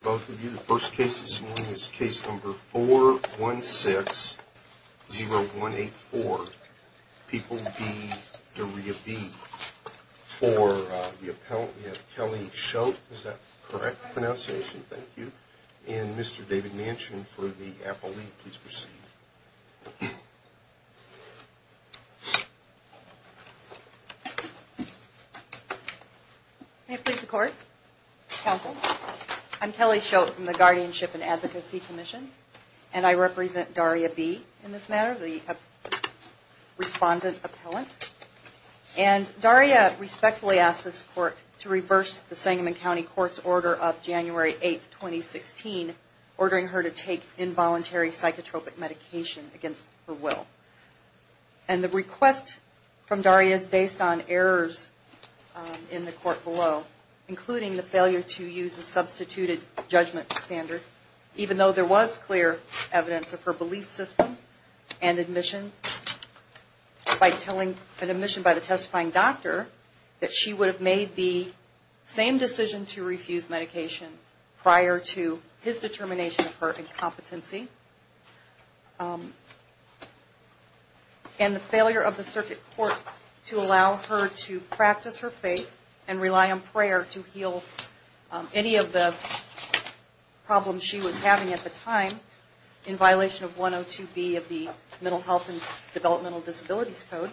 Both of you, the first case this morning is case number 416-0184, People v. Daria B. For the appellant, we have Kelly Schultz. Is that the correct pronunciation? Thank you. And Mr. David Manchin for the appellee, please proceed. May it please the court? Counsel? I'm Kelly Schultz from the Guardianship and Advocacy Commission, and I represent Daria B. in this matter, the respondent appellant. And Daria respectfully asks this court to reverse the Sangamon County Court's order of January 8, 2016, ordering her to take involuntary psychotropic medication against her will. And the request from Daria is based on errors in the court below, including the failure to use a substituted judgment standard, even though there was clear evidence of her belief system and admission by the testifying doctor that she would have made the same decision to refuse medication prior to his determination of her incompetency. And the failure of the circuit court to allow her to practice her faith and rely on prayer to heal any of the problems she was having at the time, in violation of 102B of the Mental Health and Developmental Disabilities Code.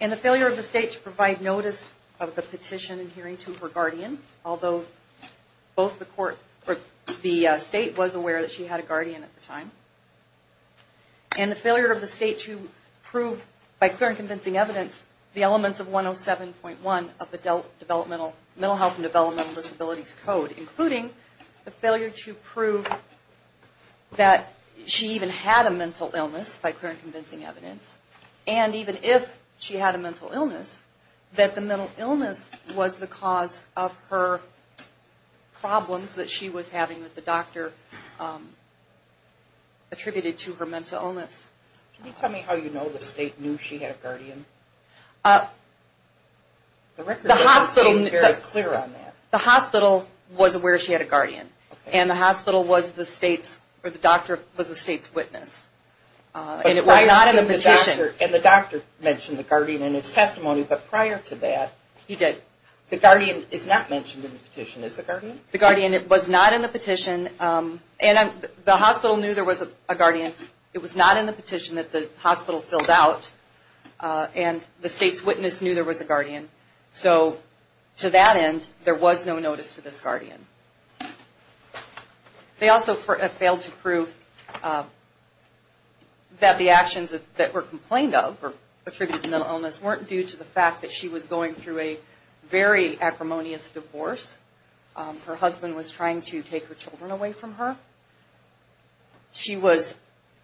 And the failure of the state to provide notice of the petition adhering to her guardian, although both the court, or the state, was aware that she had a guardian at the time. And the failure of the state to prove, by clear and convincing evidence, the elements of 107.1 of the Mental Health and Developmental Disabilities Code, including the failure to prove that she even had a mental illness, by clear and convincing evidence, and even if she had a mental illness, that the mental illness was the cause of her problems that she was having that the doctor attributed to her mental illness. Can you tell me how you know the state knew she had a guardian? The hospital was aware she had a guardian. And the hospital was the state's, or the doctor was the state's witness. And it was not in the petition. And the doctor mentioned the guardian in his testimony, but prior to that, the guardian is not mentioned in the petition, is the guardian? The guardian was not in the petition, and the hospital knew there was a guardian. It was not in the petition that the hospital filled out, and the state's witness knew there was a guardian. So to that end, there was no notice to this guardian. They also failed to prove that the actions that were complained of, or attributed to mental illness, weren't due to the fact that she was going through a very acrimonious divorce. Her husband was trying to take her children away from her. She was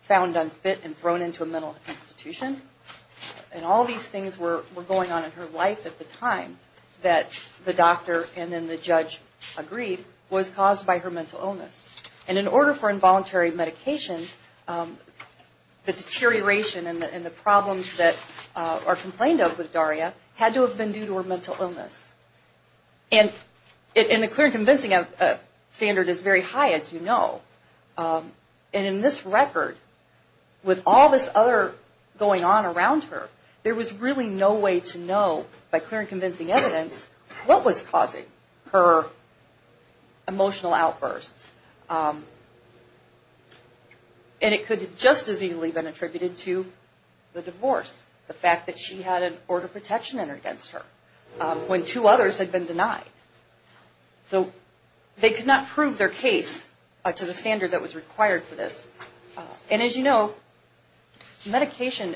found unfit and thrown into a mental institution. And all these things were going on in her life at the time that the doctor and then the judge agreed was caused by her mental illness. And in order for involuntary medication, the deterioration and the problems that are complained of with Daria had to have been due to her mental illness. And the clear and convincing standard is very high, as you know. And in this record, with all this other going on around her, there was really no way to know by clear and convincing evidence what was causing her emotional outbursts. And it could have just as easily been attributed to the divorce, the fact that she had an order of protection against her. When two others had been denied. So they could not prove their case to the standard that was required for this. And as you know, medication,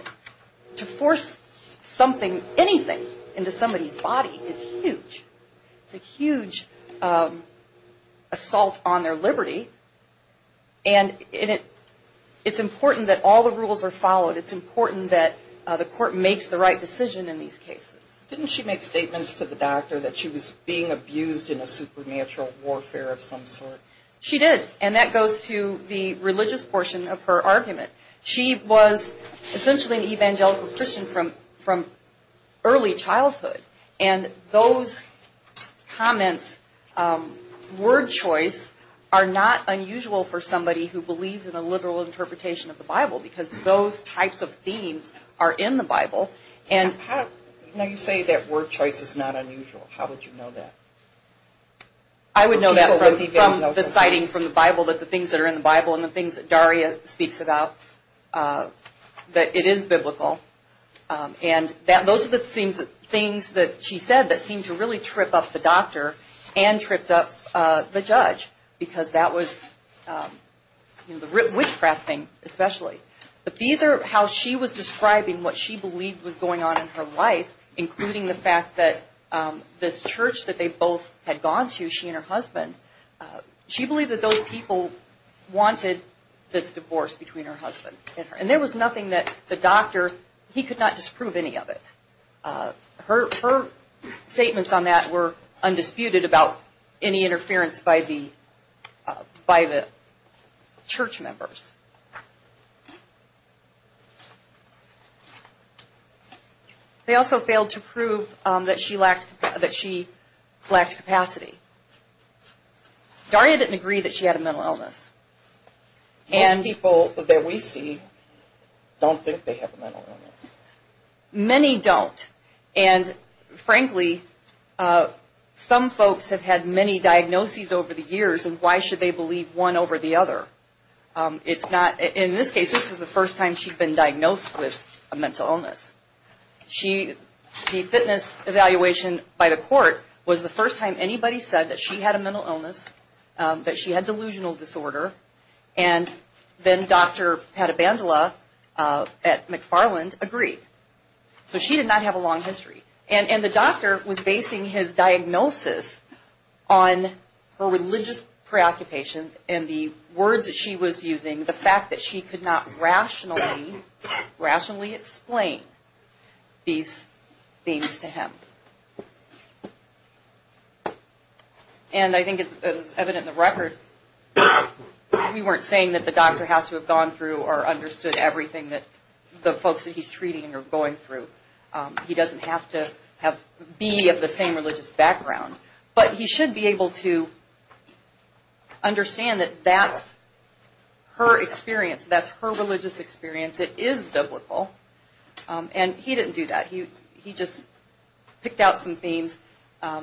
to force something, anything, into somebody's body is huge. It's a huge assault on their liberty. And it's important that all the rules are followed. It's important that the court makes the right decision in these cases. Didn't she make statements to the doctor that she was being abused in a supernatural warfare of some sort? She did. And that goes to the religious portion of her argument. She was essentially an evangelical Christian from early childhood. And those comments, word choice, are not unusual for somebody who believes in a liberal interpretation of the Bible, because those types of themes are in the Bible. Now you say that word choice is not unusual. How would you know that? I would know that from the sightings from the Bible, that the things that are in the Bible, and the things that Daria speaks about, that it is biblical. And those are the things that she said that seemed to really trip up the doctor, and tripped up the judge, because that was witch-crafting especially. But these are how she was describing what she believed was going on in her life, including the fact that this church that they both had gone to, she and her husband, she believed that those people wanted this divorce between her husband and her. And there was nothing that the doctor, he could not disprove any of it. Her statements on that were undisputed about any interference by the church members. They also failed to prove that she lacked capacity. Daria didn't agree that she had a mental illness. Most people that we see don't think they have a mental illness. Many don't. And frankly, some folks have had many diagnoses over the years, and why should they believe one over the other? In this case, this was the first time she'd been diagnosed with a mental illness. The fitness evaluation by the court was the first time anybody said that she had a mental illness, that she had delusional disorder. And then Dr. Patabandala at McFarland agreed. So she did not have a long history. And the doctor was basing his diagnosis on her religious preoccupation, and the words that she was using, the fact that she could not rationally explain these things to him. And I think it's evident in the record, we weren't saying that the doctor has to have gone through or understood everything that the folks that he's treating are going through. He doesn't have to be of the same religious background. But he should be able to understand that that's her experience. That's her religious experience. It is biblical. And he didn't do that. He just picked out some themes,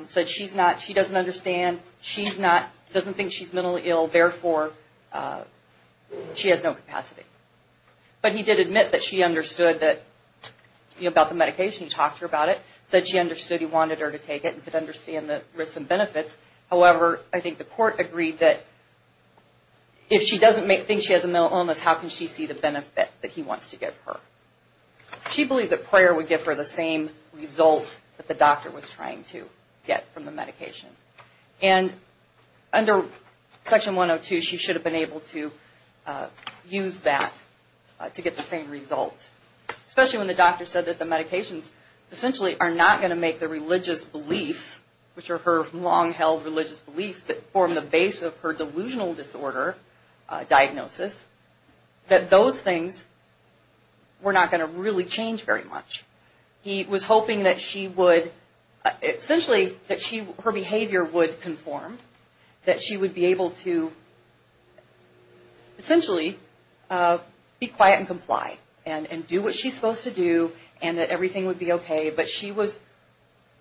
said she doesn't understand, she doesn't think she's mentally ill, therefore she has no capacity. But he did admit that she understood about the medication. He talked to her about it. He said she understood. He wanted her to take it and could understand the risks and benefits. However, I think the court agreed that if she doesn't think she has a mental illness, how can she see the benefit that he wants to give her? She believed that prayer would give her the same result that the doctor was trying to get from the medication. And under Section 102, she should have been able to use that to get the same result. Especially when the doctor said that the medications essentially are not going to make the religious beliefs, which are her long-held religious beliefs that form the base of her delusional disorder diagnosis, that those things were not going to really change very much. He was hoping that she would, essentially that her behavior would conform. That she would be able to essentially be quiet and comply. And do what she's supposed to do and that everything would be okay. But she was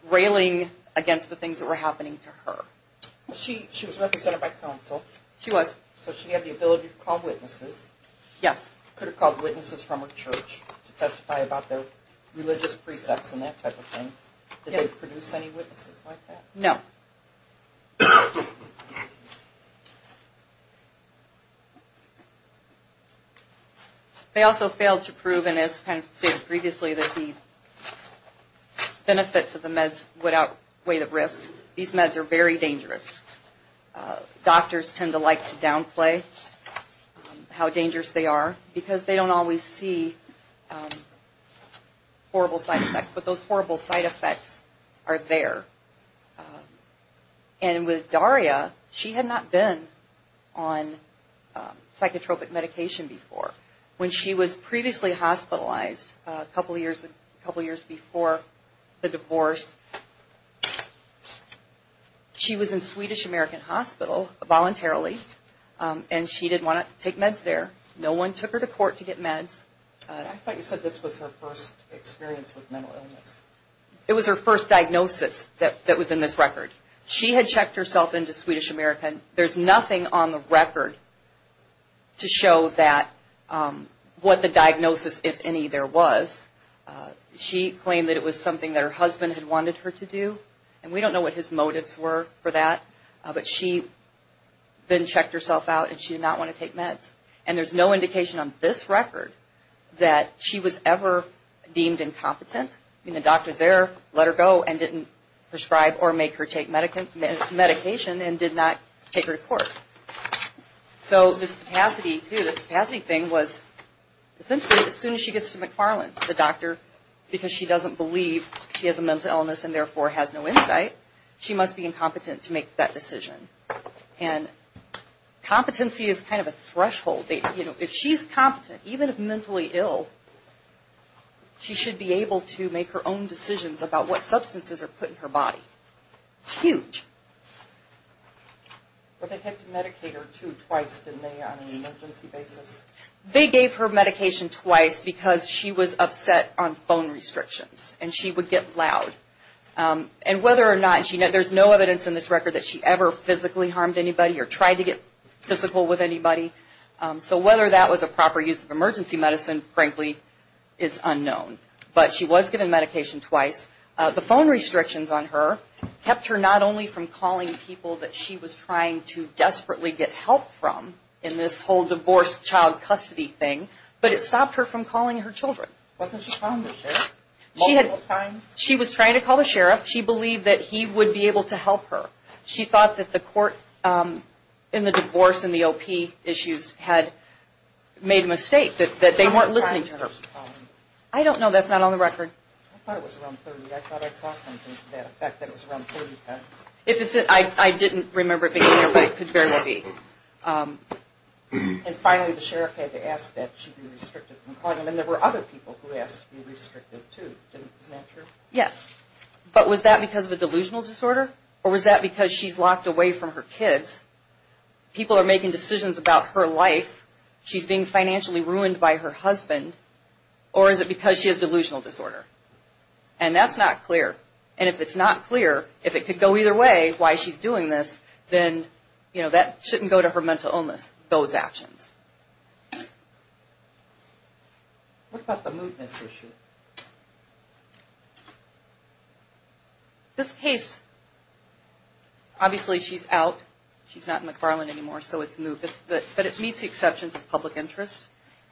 railing against the things that were happening to her. She was represented by counsel. She was. So she had the ability to call witnesses. Yes. Could have called witnesses from her church to testify about their religious precepts and that type of thing. Did they produce any witnesses like that? No. They also failed to prove, and as kind of stated previously, that the benefits of the meds would outweigh the risks. These meds are very dangerous. Doctors tend to like to downplay how dangerous they are. Because they don't always see horrible side effects. But those horrible side effects are there. And with Daria, she had not been on psychotropic medication before. When she was previously hospitalized, a couple years before the divorce, she was in Swedish American Hospital voluntarily. And she didn't want to take meds there. No one took her to court to get meds. I thought you said this was her first experience with mental illness. It was her first diagnosis that was in this record. She had checked herself into Swedish American. There's nothing on the record to show what the diagnosis, if any, there was. She claimed that it was something that her husband had wanted her to do. And we don't know what his motives were for that. But she then checked herself out and she did not want to take meds. And there's no indication on this record that she was ever deemed incompetent. The doctor there let her go and didn't prescribe or make her take medication and did not take her to court. So this capacity thing was, essentially, as soon as she gets to McFarland, the doctor, because she doesn't believe she has a mental illness and therefore has no insight, she must be incompetent to make that decision. And competency is kind of a threshold. If she's competent, even if mentally ill, she should be able to make her own decisions about what substances are put in her body. It's huge. But they had to medicate her, too, twice, didn't they, on an emergency basis? They gave her medication twice because she was upset on phone restrictions and she would get loud. And whether or not, and there's no evidence in this record that she ever physically harmed anybody or tried to get physical with anybody. So whether that was a proper use of emergency medicine, frankly, is unknown. But she was given medication twice. The phone restrictions on her kept her not only from calling people that she was trying to desperately get help from in this whole divorce-child-custody thing, but it stopped her from calling her children. Wasn't she calling the sheriff multiple times? She was trying to call the sheriff. She believed that he would be able to help her. She thought that the court in the divorce and the OP issues had made a mistake, that they weren't listening to her. How many times did she call him? I don't know. That's not on the record. I thought it was around 30. I thought I saw something to that effect that it was around 30 times. I didn't remember it being there, but it could very well be. And finally, the sheriff had to ask that she be restricted from calling him. And there were other people who asked to be restricted, too. Isn't that true? Yes. But was that because of a delusional disorder? Or was that because she's locked away from her kids? People are making decisions about her life. She's being financially ruined by her husband. Or is it because she has delusional disorder? And that's not clear. And if it's not clear, if it could go either way, why she's doing this, then that shouldn't go to her mental illness, those actions. What about the mootness issue? This case, obviously she's out. She's not in McFarland anymore, so it's moot. But it meets the exceptions of public interest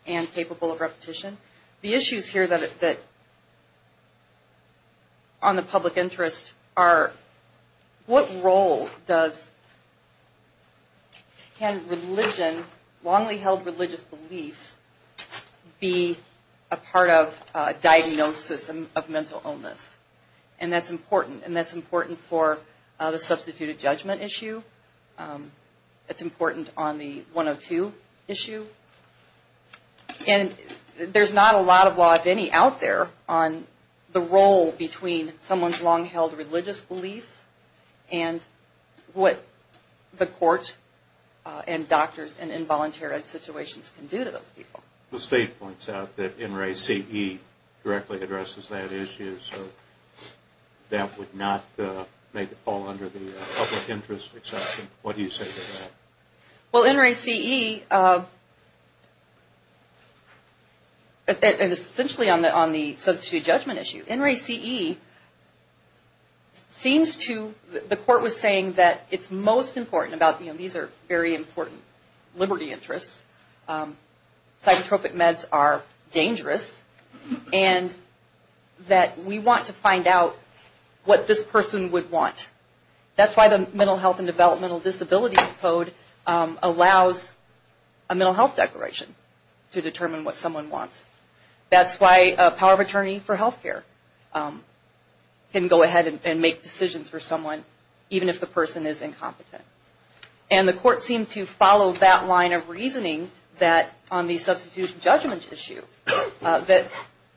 and capable of repetition. The issues here that, on the public interest are, what role does, can religion, long-held religious beliefs, be a part of diagnosis of mental illness? And that's important. And that's important for the substituted judgment issue. It's important on the 102 issue. And there's not a lot of law, if any, out there on the role between someone's long-held religious beliefs and what the court and doctors and involuntary situations can do to those people. The state points out that NRACE directly addresses that issue, so that would not make it fall under the public interest exception. What do you say to that? Well, NRACE, essentially on the substituted judgment issue, NRACE seems to, the court was saying that it's most important about, you know, these are very important liberty interests. Psychotropic meds are dangerous. And that we want to find out what this person would want. That's why the Mental Health and Developmental Disabilities Code allows a mental health declaration to determine what someone wants. That's why a power of attorney for health care can go ahead and make decisions for someone, even if the person is incompetent. And the court seemed to follow that line of reasoning that on the substituted judgment issue, that,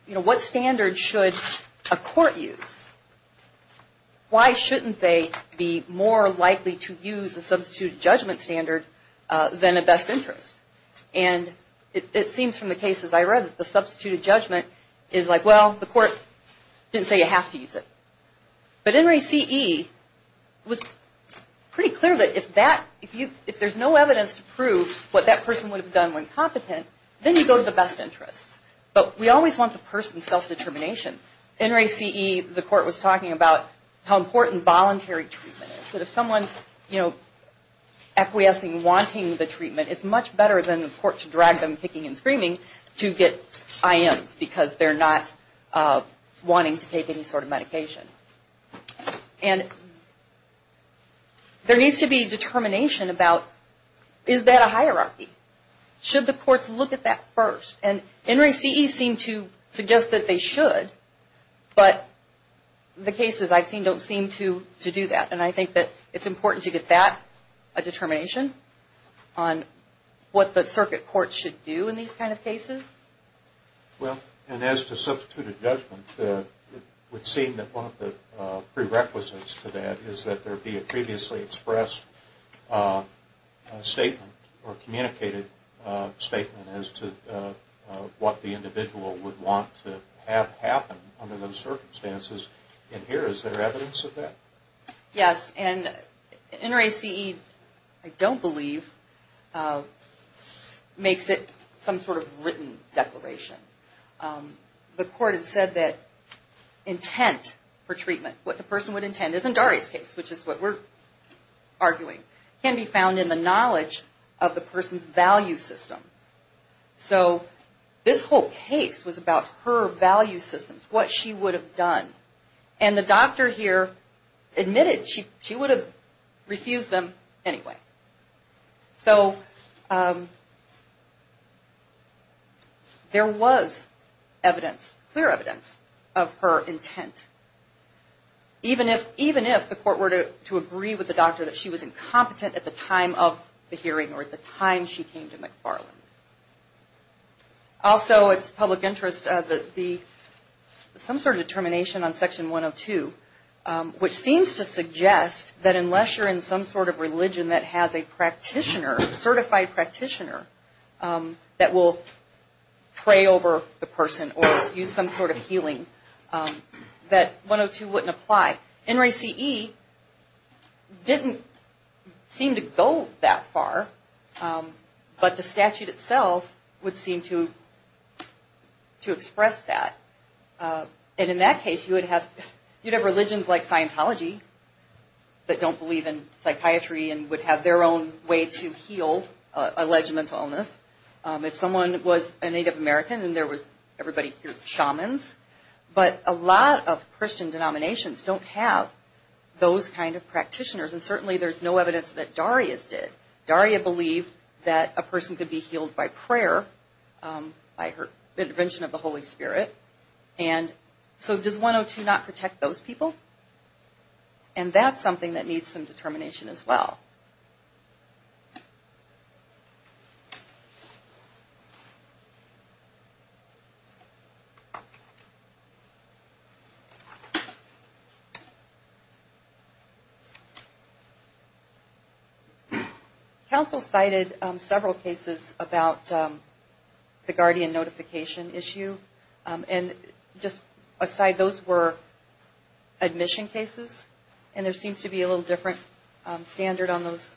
you know, what standard should a court use? Why shouldn't they be more likely to use a substituted judgment standard than a best interest? And it seems from the cases I read that the substituted judgment is like, well, the court didn't say you have to use it. But NRACE was pretty clear that if there's no evidence to prove what that person would have done when competent, then you go to the best interest. But we always want the person's self-determination. NRACE, the court was talking about how important voluntary treatment is. That if someone's, you know, acquiescing, wanting the treatment, it's much better than the court to drag them kicking and screaming to get IMs because they're not wanting to take any sort of medication. And there needs to be determination about is that a hierarchy? Should the courts look at that first? And NRACE seemed to suggest that they should, but the cases I've seen don't seem to do that. And I think that it's important to get that determination on what the circuit courts should do in these kind of cases. Well, and as to substituted judgment, it would seem that one of the prerequisites to that is that there be a previously expressed statement or communicated statement as to what the individual would want to have happen under those circumstances. And here, is there evidence of that? Yes. And NRACE, I don't believe, makes it some sort of written declaration. The court has said that intent for treatment, what the person would intend is in Daria's case, which is what we're arguing, can be found in the knowledge of the person's value system. So this whole case was about her value systems, what she would have done. And the doctor here admitted she would have refused them anyway. So there was evidence, clear evidence of her intent, even if the court were to agree with the doctor that she was incompetent at the time of the hearing or at the time she came to McFarland. Also, it's public interest that there be some sort of determination on Section 102, which seems to suggest that unless you're in some sort of religion that has a practitioner, certified practitioner, that will pray over the person or use some sort of healing, that 102 wouldn't apply. NRACE didn't seem to go that far, but the statute itself would seem to express that. And in that case, you'd have religions like Scientology that don't believe in psychiatry and would have their own way to heal alleged mental illness. If someone was a Native American and everybody hears shamans, but a lot of Christian denominations don't have those kind of practitioners. And certainly there's no evidence that Daria's did. Daria believed that a person could be healed by prayer, by her intervention of the Holy Spirit. And so does 102 not protect those people? And that's something that needs some determination as well. Council cited several cases about the guardian notification issue. And just aside, those were admission cases, and there seems to be a little different standard on those,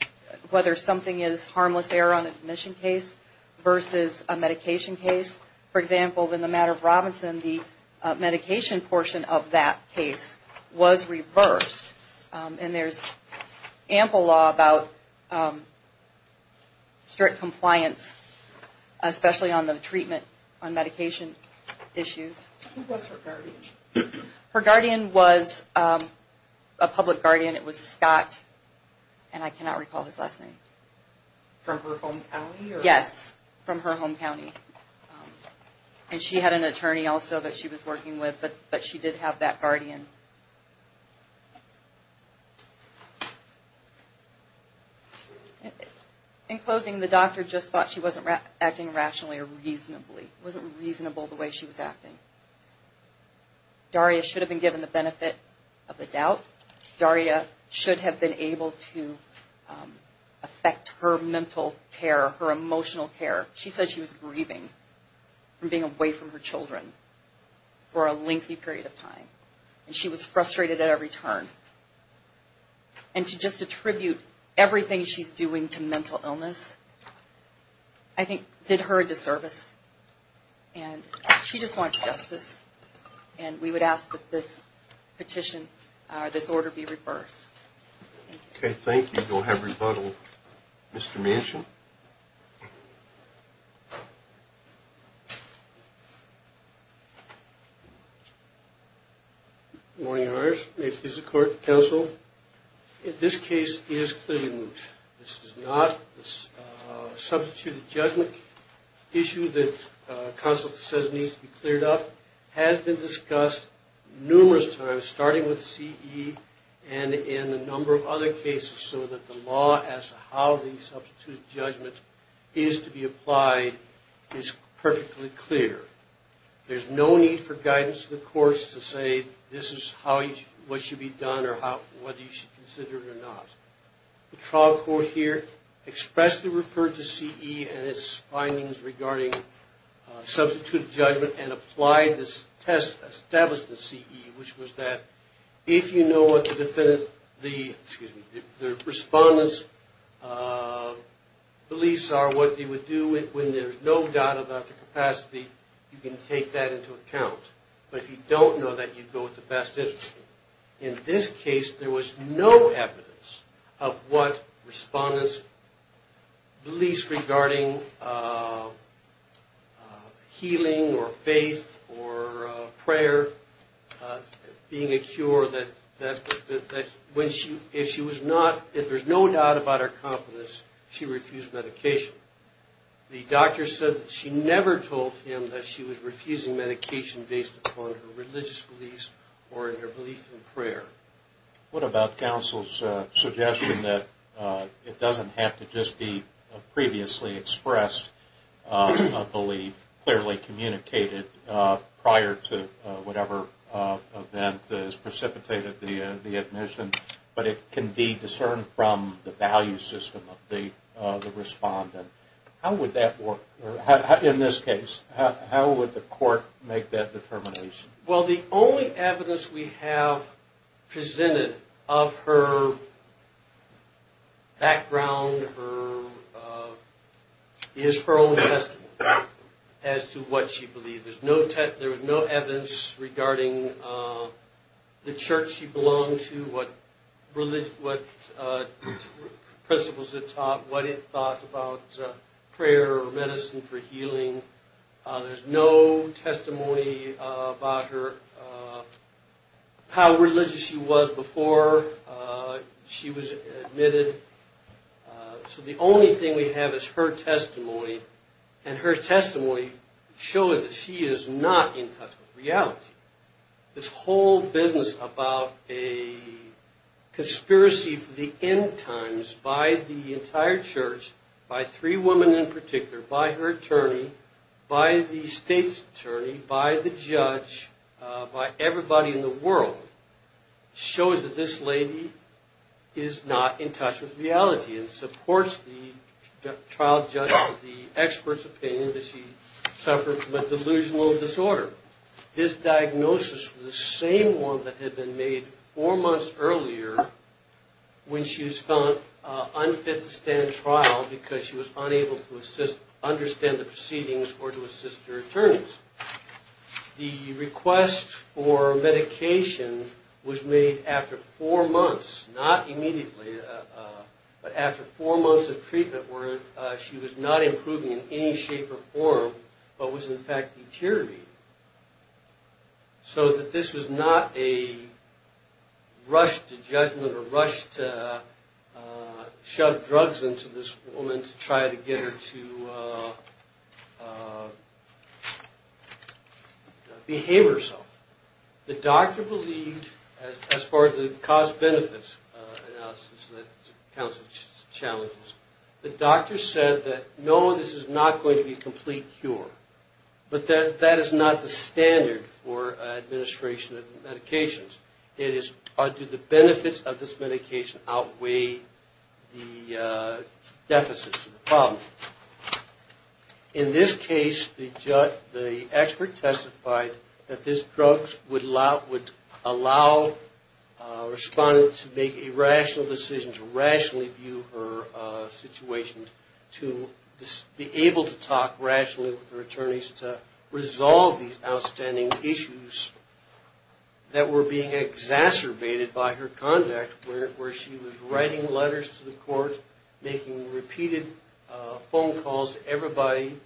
whether something is harmless error on admission case versus a medication case. For example, in the matter of Robinson, the medication portion of that case was reversed. And there's ample law about strict compliance, especially on the treatment on medication issues. Who was her guardian? Her guardian was a public guardian. It was Scott, and I cannot recall his last name. From her home county? Yes, from her home county. And she had an attorney also that she was working with, but she did have that guardian. In closing, the doctor just thought she wasn't acting rationally or reasonably. She wasn't reasonable the way she was acting. Daria should have been given the benefit of the doubt. Daria should have been able to affect her mental care, her emotional care. She said she was grieving from being away from her children for a lengthy period of time, and she was frustrated at every turn. And to just attribute everything she's doing to mental illness, I think, did her a disservice. And she just wanted justice, and we would ask that this petition, this order, be reversed. Okay, thank you. We'll have rebuttal. Mr. Manchin. Good morning, lawyers. May it please the court, counsel. This case is clearly moot. This is not a substituted judgment issue that counsel says needs to be cleared up. It has been discussed numerous times, starting with CE and in a number of other cases, so that the law as to how the substituted judgment is to be applied is perfectly clear. There's no need for guidance to the courts to say this is what should be done or whether you should consider it or not. The trial court here expressly referred to CE and its findings regarding substituted judgment and applied this test established in CE, which was that if you know what the defendant, excuse me, the respondent's beliefs are, what they would do when there's no doubt about their capacity, you can take that into account. But if you don't know that, you go with the best interest. In this case, there was no evidence of what respondents' beliefs regarding healing or faith or prayer being a cure, that if there's no doubt about her competence, she refused medication. The doctor said that she never told him that she was refusing medication based upon her religious beliefs or her belief in prayer. What about counsel's suggestion that it doesn't have to just be a previously expressed belief, clearly communicated prior to whatever event has precipitated the admission, but it can be discerned from the value system of the respondent? How would that work? In this case, how would the court make that determination? Well, the only evidence we have presented of her background is her own testimony as to what she believed. There was no evidence regarding the church she belonged to, what principles it taught, what it thought about prayer or medicine for healing. There's no testimony about how religious she was before she was admitted. So the only thing we have is her testimony, and her testimony shows that she is not in touch with reality. This whole business about a conspiracy for the end times by the entire church, by three women in particular, by her attorney, by the state's attorney, by the judge, by everybody in the world, shows that this lady is not in touch with reality and supports the trial judge, the expert's opinion that she suffered from a delusional disorder. This diagnosis was the same one that had been made four months earlier when she was found unfit to stand trial because she was unable to understand the proceedings or to assist her attorneys. The request for medication was made after four months, not immediately, but after four months of treatment where she was not improving in any shape or form, but was in fact deteriorating, so that this was not a rush to judgment or rush to shove drugs into this woman to try to get her to behave herself. The doctor believed, as far as the cost-benefit analysis that counts as challenges, the doctor said that, no, this is not going to be a complete cure, but that is not the standard for administration of medications. It is, do the benefits of this medication outweigh the deficits of the problem? In this case, the expert testified that this drug would allow a respondent to make a rational decision to rationally view her situation, to be able to talk rationally with her attorneys to resolve these outstanding issues that were being exacerbated by her conduct, where she was writing letters to the court, making repeated phone calls to everybody,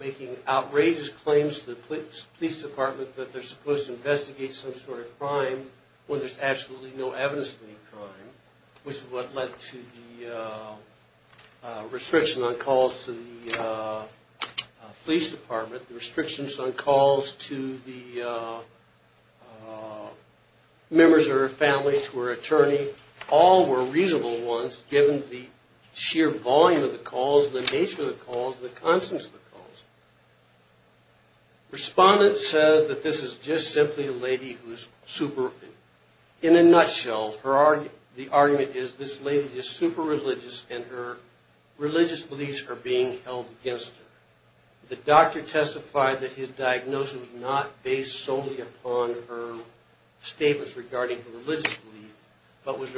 making outrageous claims to the police department that they're supposed to investigate some sort of crime when there's absolutely no evidence of any crime, which is what led to the restriction on calls to the police department, the restrictions on calls to the members of her family, to her attorney. All were reasonable ones, given the sheer volume of the calls, the nature of the calls, and the constance of the calls. Respondent says that this is just simply a lady who is super, in a nutshell, the argument is this lady is super religious and her religious beliefs are being held against her. The doctor testified that his diagnosis was not based solely upon her statements regarding her religious beliefs, but was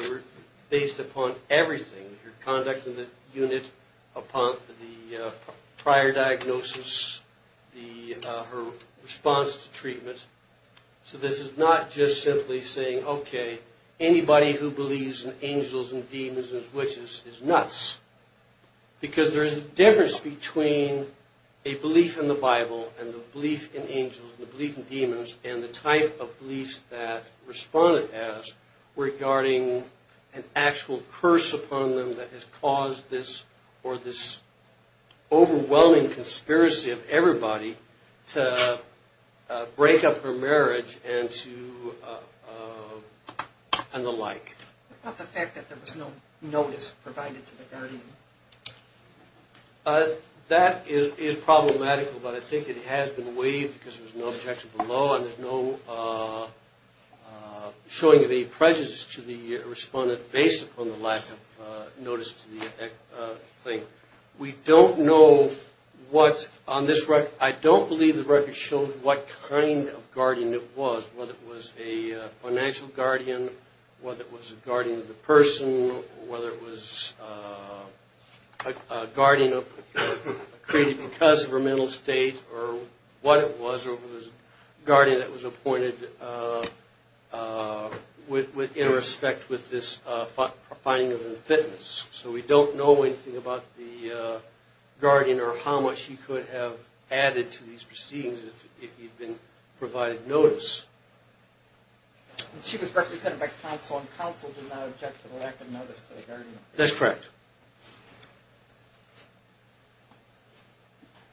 based upon everything, her conduct in the unit, upon the prior diagnosis, her response to treatment. So this is not just simply saying, okay, anybody who believes in angels and demons and witches is nuts. Because there's a difference between a belief in the Bible and a belief in angels and a belief in demons and the type of beliefs that respondent has regarding an actual curse upon them that has caused this or this overwhelming conspiracy of everybody to break up her marriage and the like. What about the fact that there was no notice provided to the guardian? That is problematical, but I think it has been waived because there was no objection below and there's no showing of any prejudice to the respondent based upon the lack of notice to the thing. We don't know what, on this record, I don't believe the record showed what kind of guardian it was, whether it was a financial guardian, whether it was a guardian of the person, whether it was a guardian created because of her mental state or what it was, or it was a guardian that was appointed in respect with this finding of her fitness. So we don't know anything about the guardian or how much she could have added to these proceedings if you'd been provided notice. She was represented by counsel and counsel did not object to the lack of notice to the guardian. That's correct.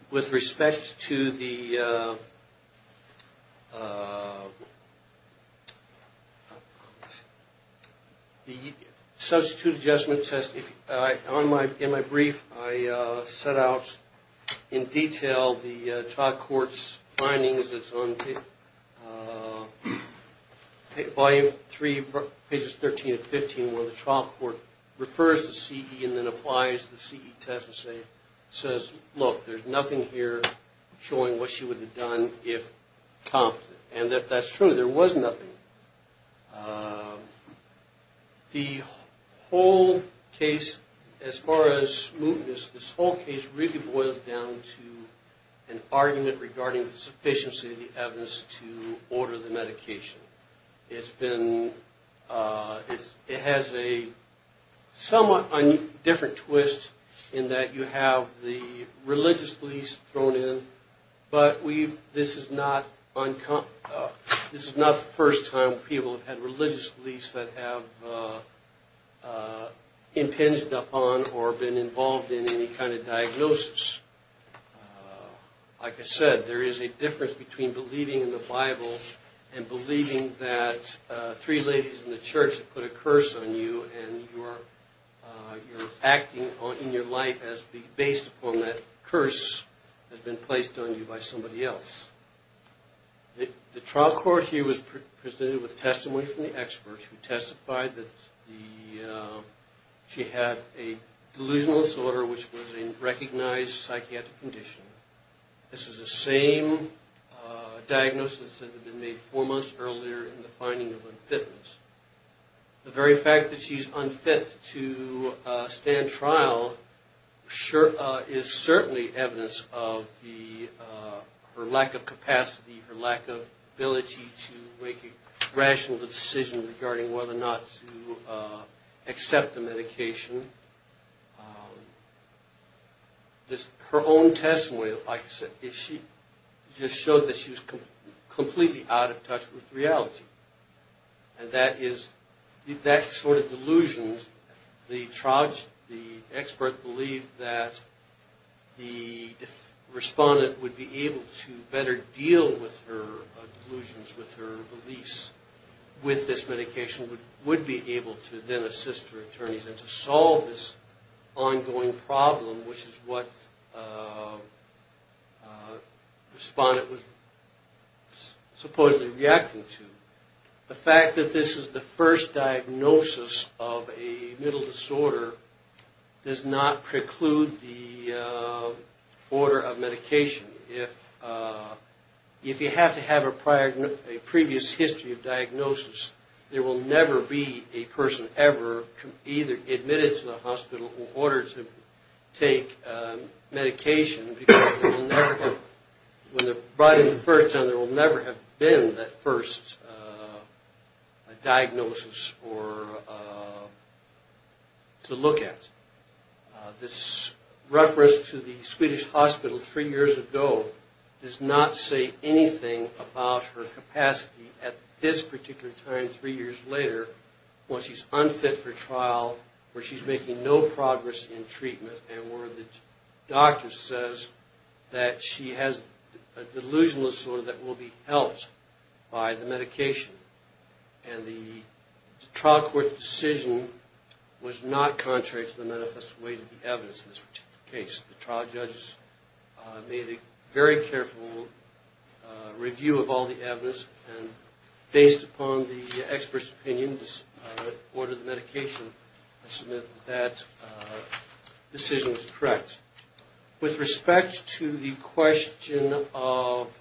With respect to the substitute adjustment test, in my brief, I set out in detail the trial court's findings. It's on Volume 3, pages 13 and 15, where the trial court refers to CE and then applies the CE test and says, look, there's nothing here showing what she would have done if competent. And that's true, there was nothing. The whole case, as far as smoothness, this whole case really boils down to an argument regarding the sufficiency of the evidence to order the medication. It has a somewhat different twist in that you have the religious beliefs thrown in, but this is not the first time people have had religious beliefs that have impinged upon or been involved in any kind of diagnosis. Like I said, there is a difference between believing in the Bible and believing that three ladies in the church have put a curse on you and you're acting in your life based upon that curse that's been placed on you by somebody else. The trial court here was presented with testimony from the experts who testified that she had a delusional disorder which was a recognized psychiatric condition. This was the same diagnosis that had been made four months earlier in the finding of unfitness. The very fact that she's unfit to stand trial is certainly evidence of her lack of capacity, her lack of ability to make a rational decision regarding whether or not to accept the medication. Her own testimony, like I said, just showed that she was completely out of touch with reality. And that sort of delusions, the expert believed that the respondent would be able to better deal with her delusions, with her beliefs with this medication, would be able to then assist her attorneys and to solve this ongoing problem, which is what the respondent was supposedly reacting to. The fact that this is the first diagnosis of a mental disorder does not preclude the order of medication. If you have to have a previous history of diagnosis, there will never be a person ever admitted to the hospital who ordered to take medication because when they're brought in the first time, there will never have been that first diagnosis to look at. This reference to the Swedish hospital three years ago does not say anything about her capacity at this particular time, three years later, when she's unfit for trial, where she's making no progress in treatment, and where the doctor says that she has a delusional disorder that will be helped by the medication. And the trial court decision was not contrary to the manifest way to the evidence in this particular case. The trial judges made a very careful review of all the evidence, and based upon the expert's opinion that ordered the medication, that decision was correct. With respect to the question of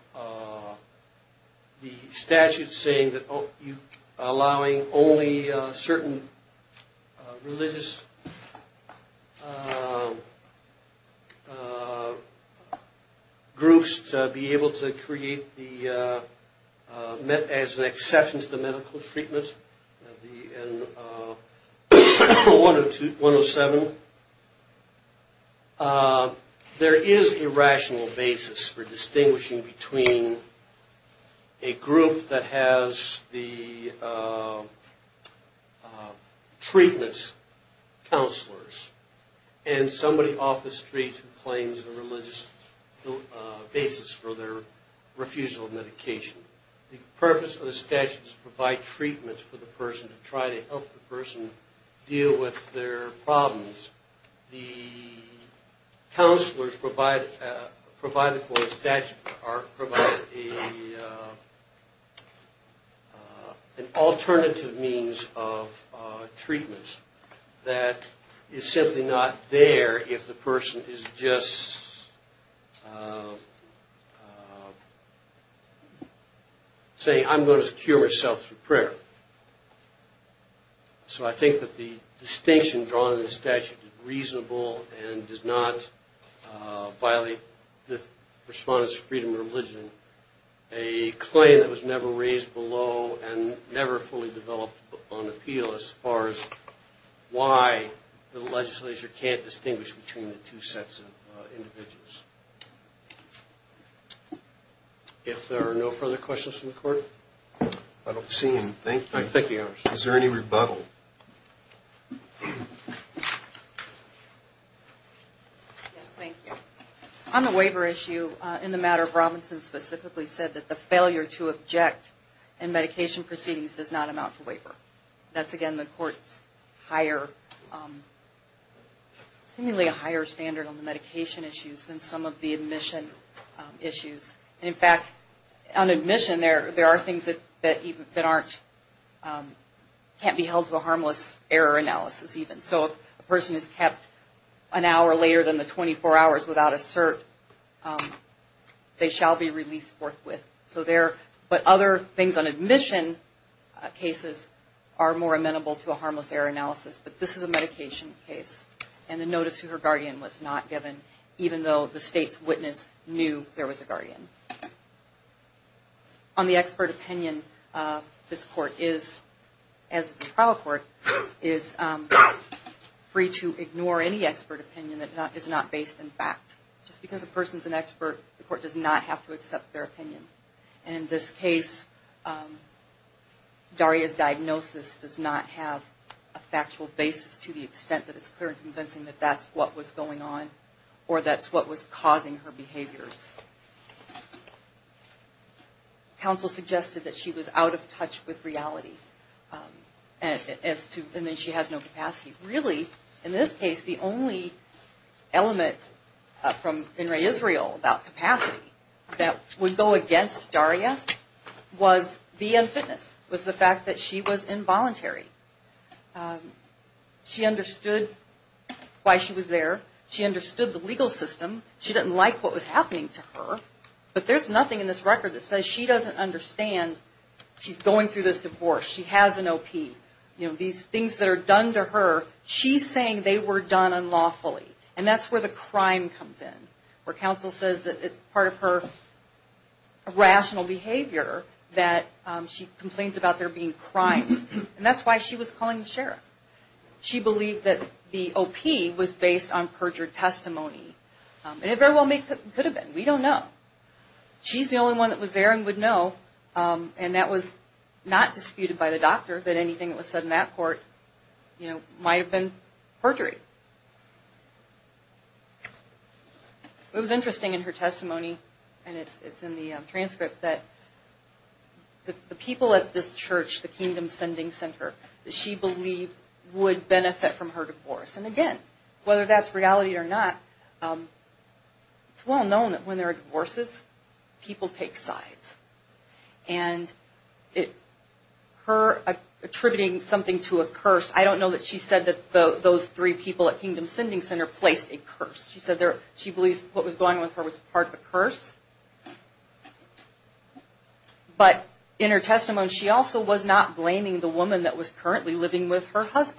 the statute saying that allowing only certain religious groups to be able to create as an exception to the medical treatment, 107, there is a rational basis for distinguishing between a group that has the treatments, counselors, and somebody off the street who claims a religious basis for their refusal of medication. The purpose of the statute is to provide treatments for the person to try to help the person deal with their problems. The counselors provided for the statute are provided an alternative means of treatments that is simply not there if the person is just saying, I'm going to secure myself through prayer. So I think that the distinction drawn in the statute is reasonable, and does not violate the Respondents for Freedom of Religion, a claim that was never raised below, and never fully developed on appeal as far as why the legislature can't distinguish between the two sets of individuals. If there are no further questions from the court? I don't see any. Thank you. Is there any rebuttal? Yes, thank you. On the waiver issue, in the matter of Robinson specifically said that the failure to object in medication proceedings does not amount to waiver. That's again the court's higher, seemingly a higher standard on the medication issues than some of the admission issues. In fact, on admission there are things that can't be held to a harmless error analysis even. So if a person is kept an hour later than the 24 hours without a cert, they shall be released forthwith. But other things on admission cases are more amenable to a harmless error analysis. But this is a medication case, and the notice to her guardian was not given, even though the state's witness knew there was a guardian. On the expert opinion, this court is, as is the trial court, is free to ignore any expert opinion that is not based in fact. Just because a person is an expert, the court does not have to accept And in this case, Daria's diagnosis does not have a factual basis to the extent that it's clear and convincing that that's what was going on, or that's what was causing her behaviors. Counsel suggested that she was out of touch with reality, and that she has no capacity. Really, in this case, the only element from In Re Israel about capacity that would go against Daria was the unfitness, was the fact that she was involuntary. She understood why she was there. She understood the legal system. She didn't like what was happening to her. But there's nothing in this record that says she doesn't understand she's going through this divorce. She has an OP. These things that are done to her, she's saying they were done unlawfully. And that's where the crime comes in, where counsel says that it's part of her rational behavior that she complains about there being crimes. And that's why she was calling the sheriff. She believed that the not disputed by the doctor that anything that was said in that court might have been perjury. It was interesting in her testimony, and it's in the transcript, that the people at this church, the Kingdom Sending Center, that she believed would benefit from her divorce. And again, whether that's reality or not, it's well known that when there are divorces, people take sides. And her attributing something to a curse, I don't know that she said that those three people at Kingdom Sending Center placed a curse. She said she believes what was going on with her was part of a curse. But in her testimony, she also was not blaming the woman that was currently living with her was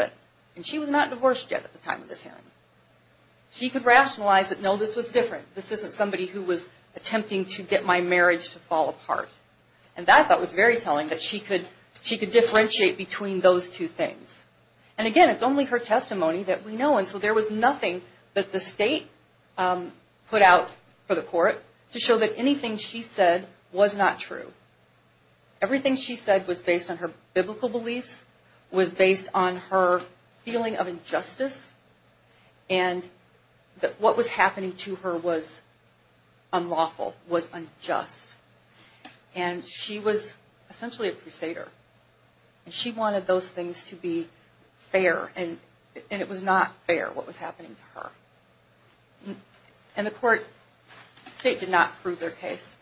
attempting to get my marriage to fall apart. And that, I thought, was very telling, that she could differentiate between those two things. And again, it's only her testimony that we know. And so there was nothing that the state put out for the court to show that anything she said was not true. Everything she said was based on her biblical testimony. And she was essentially a crusader. And she wanted those things to be fair, and it was not fair what was happening to her. And the state did not prove their case,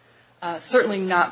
certainly not by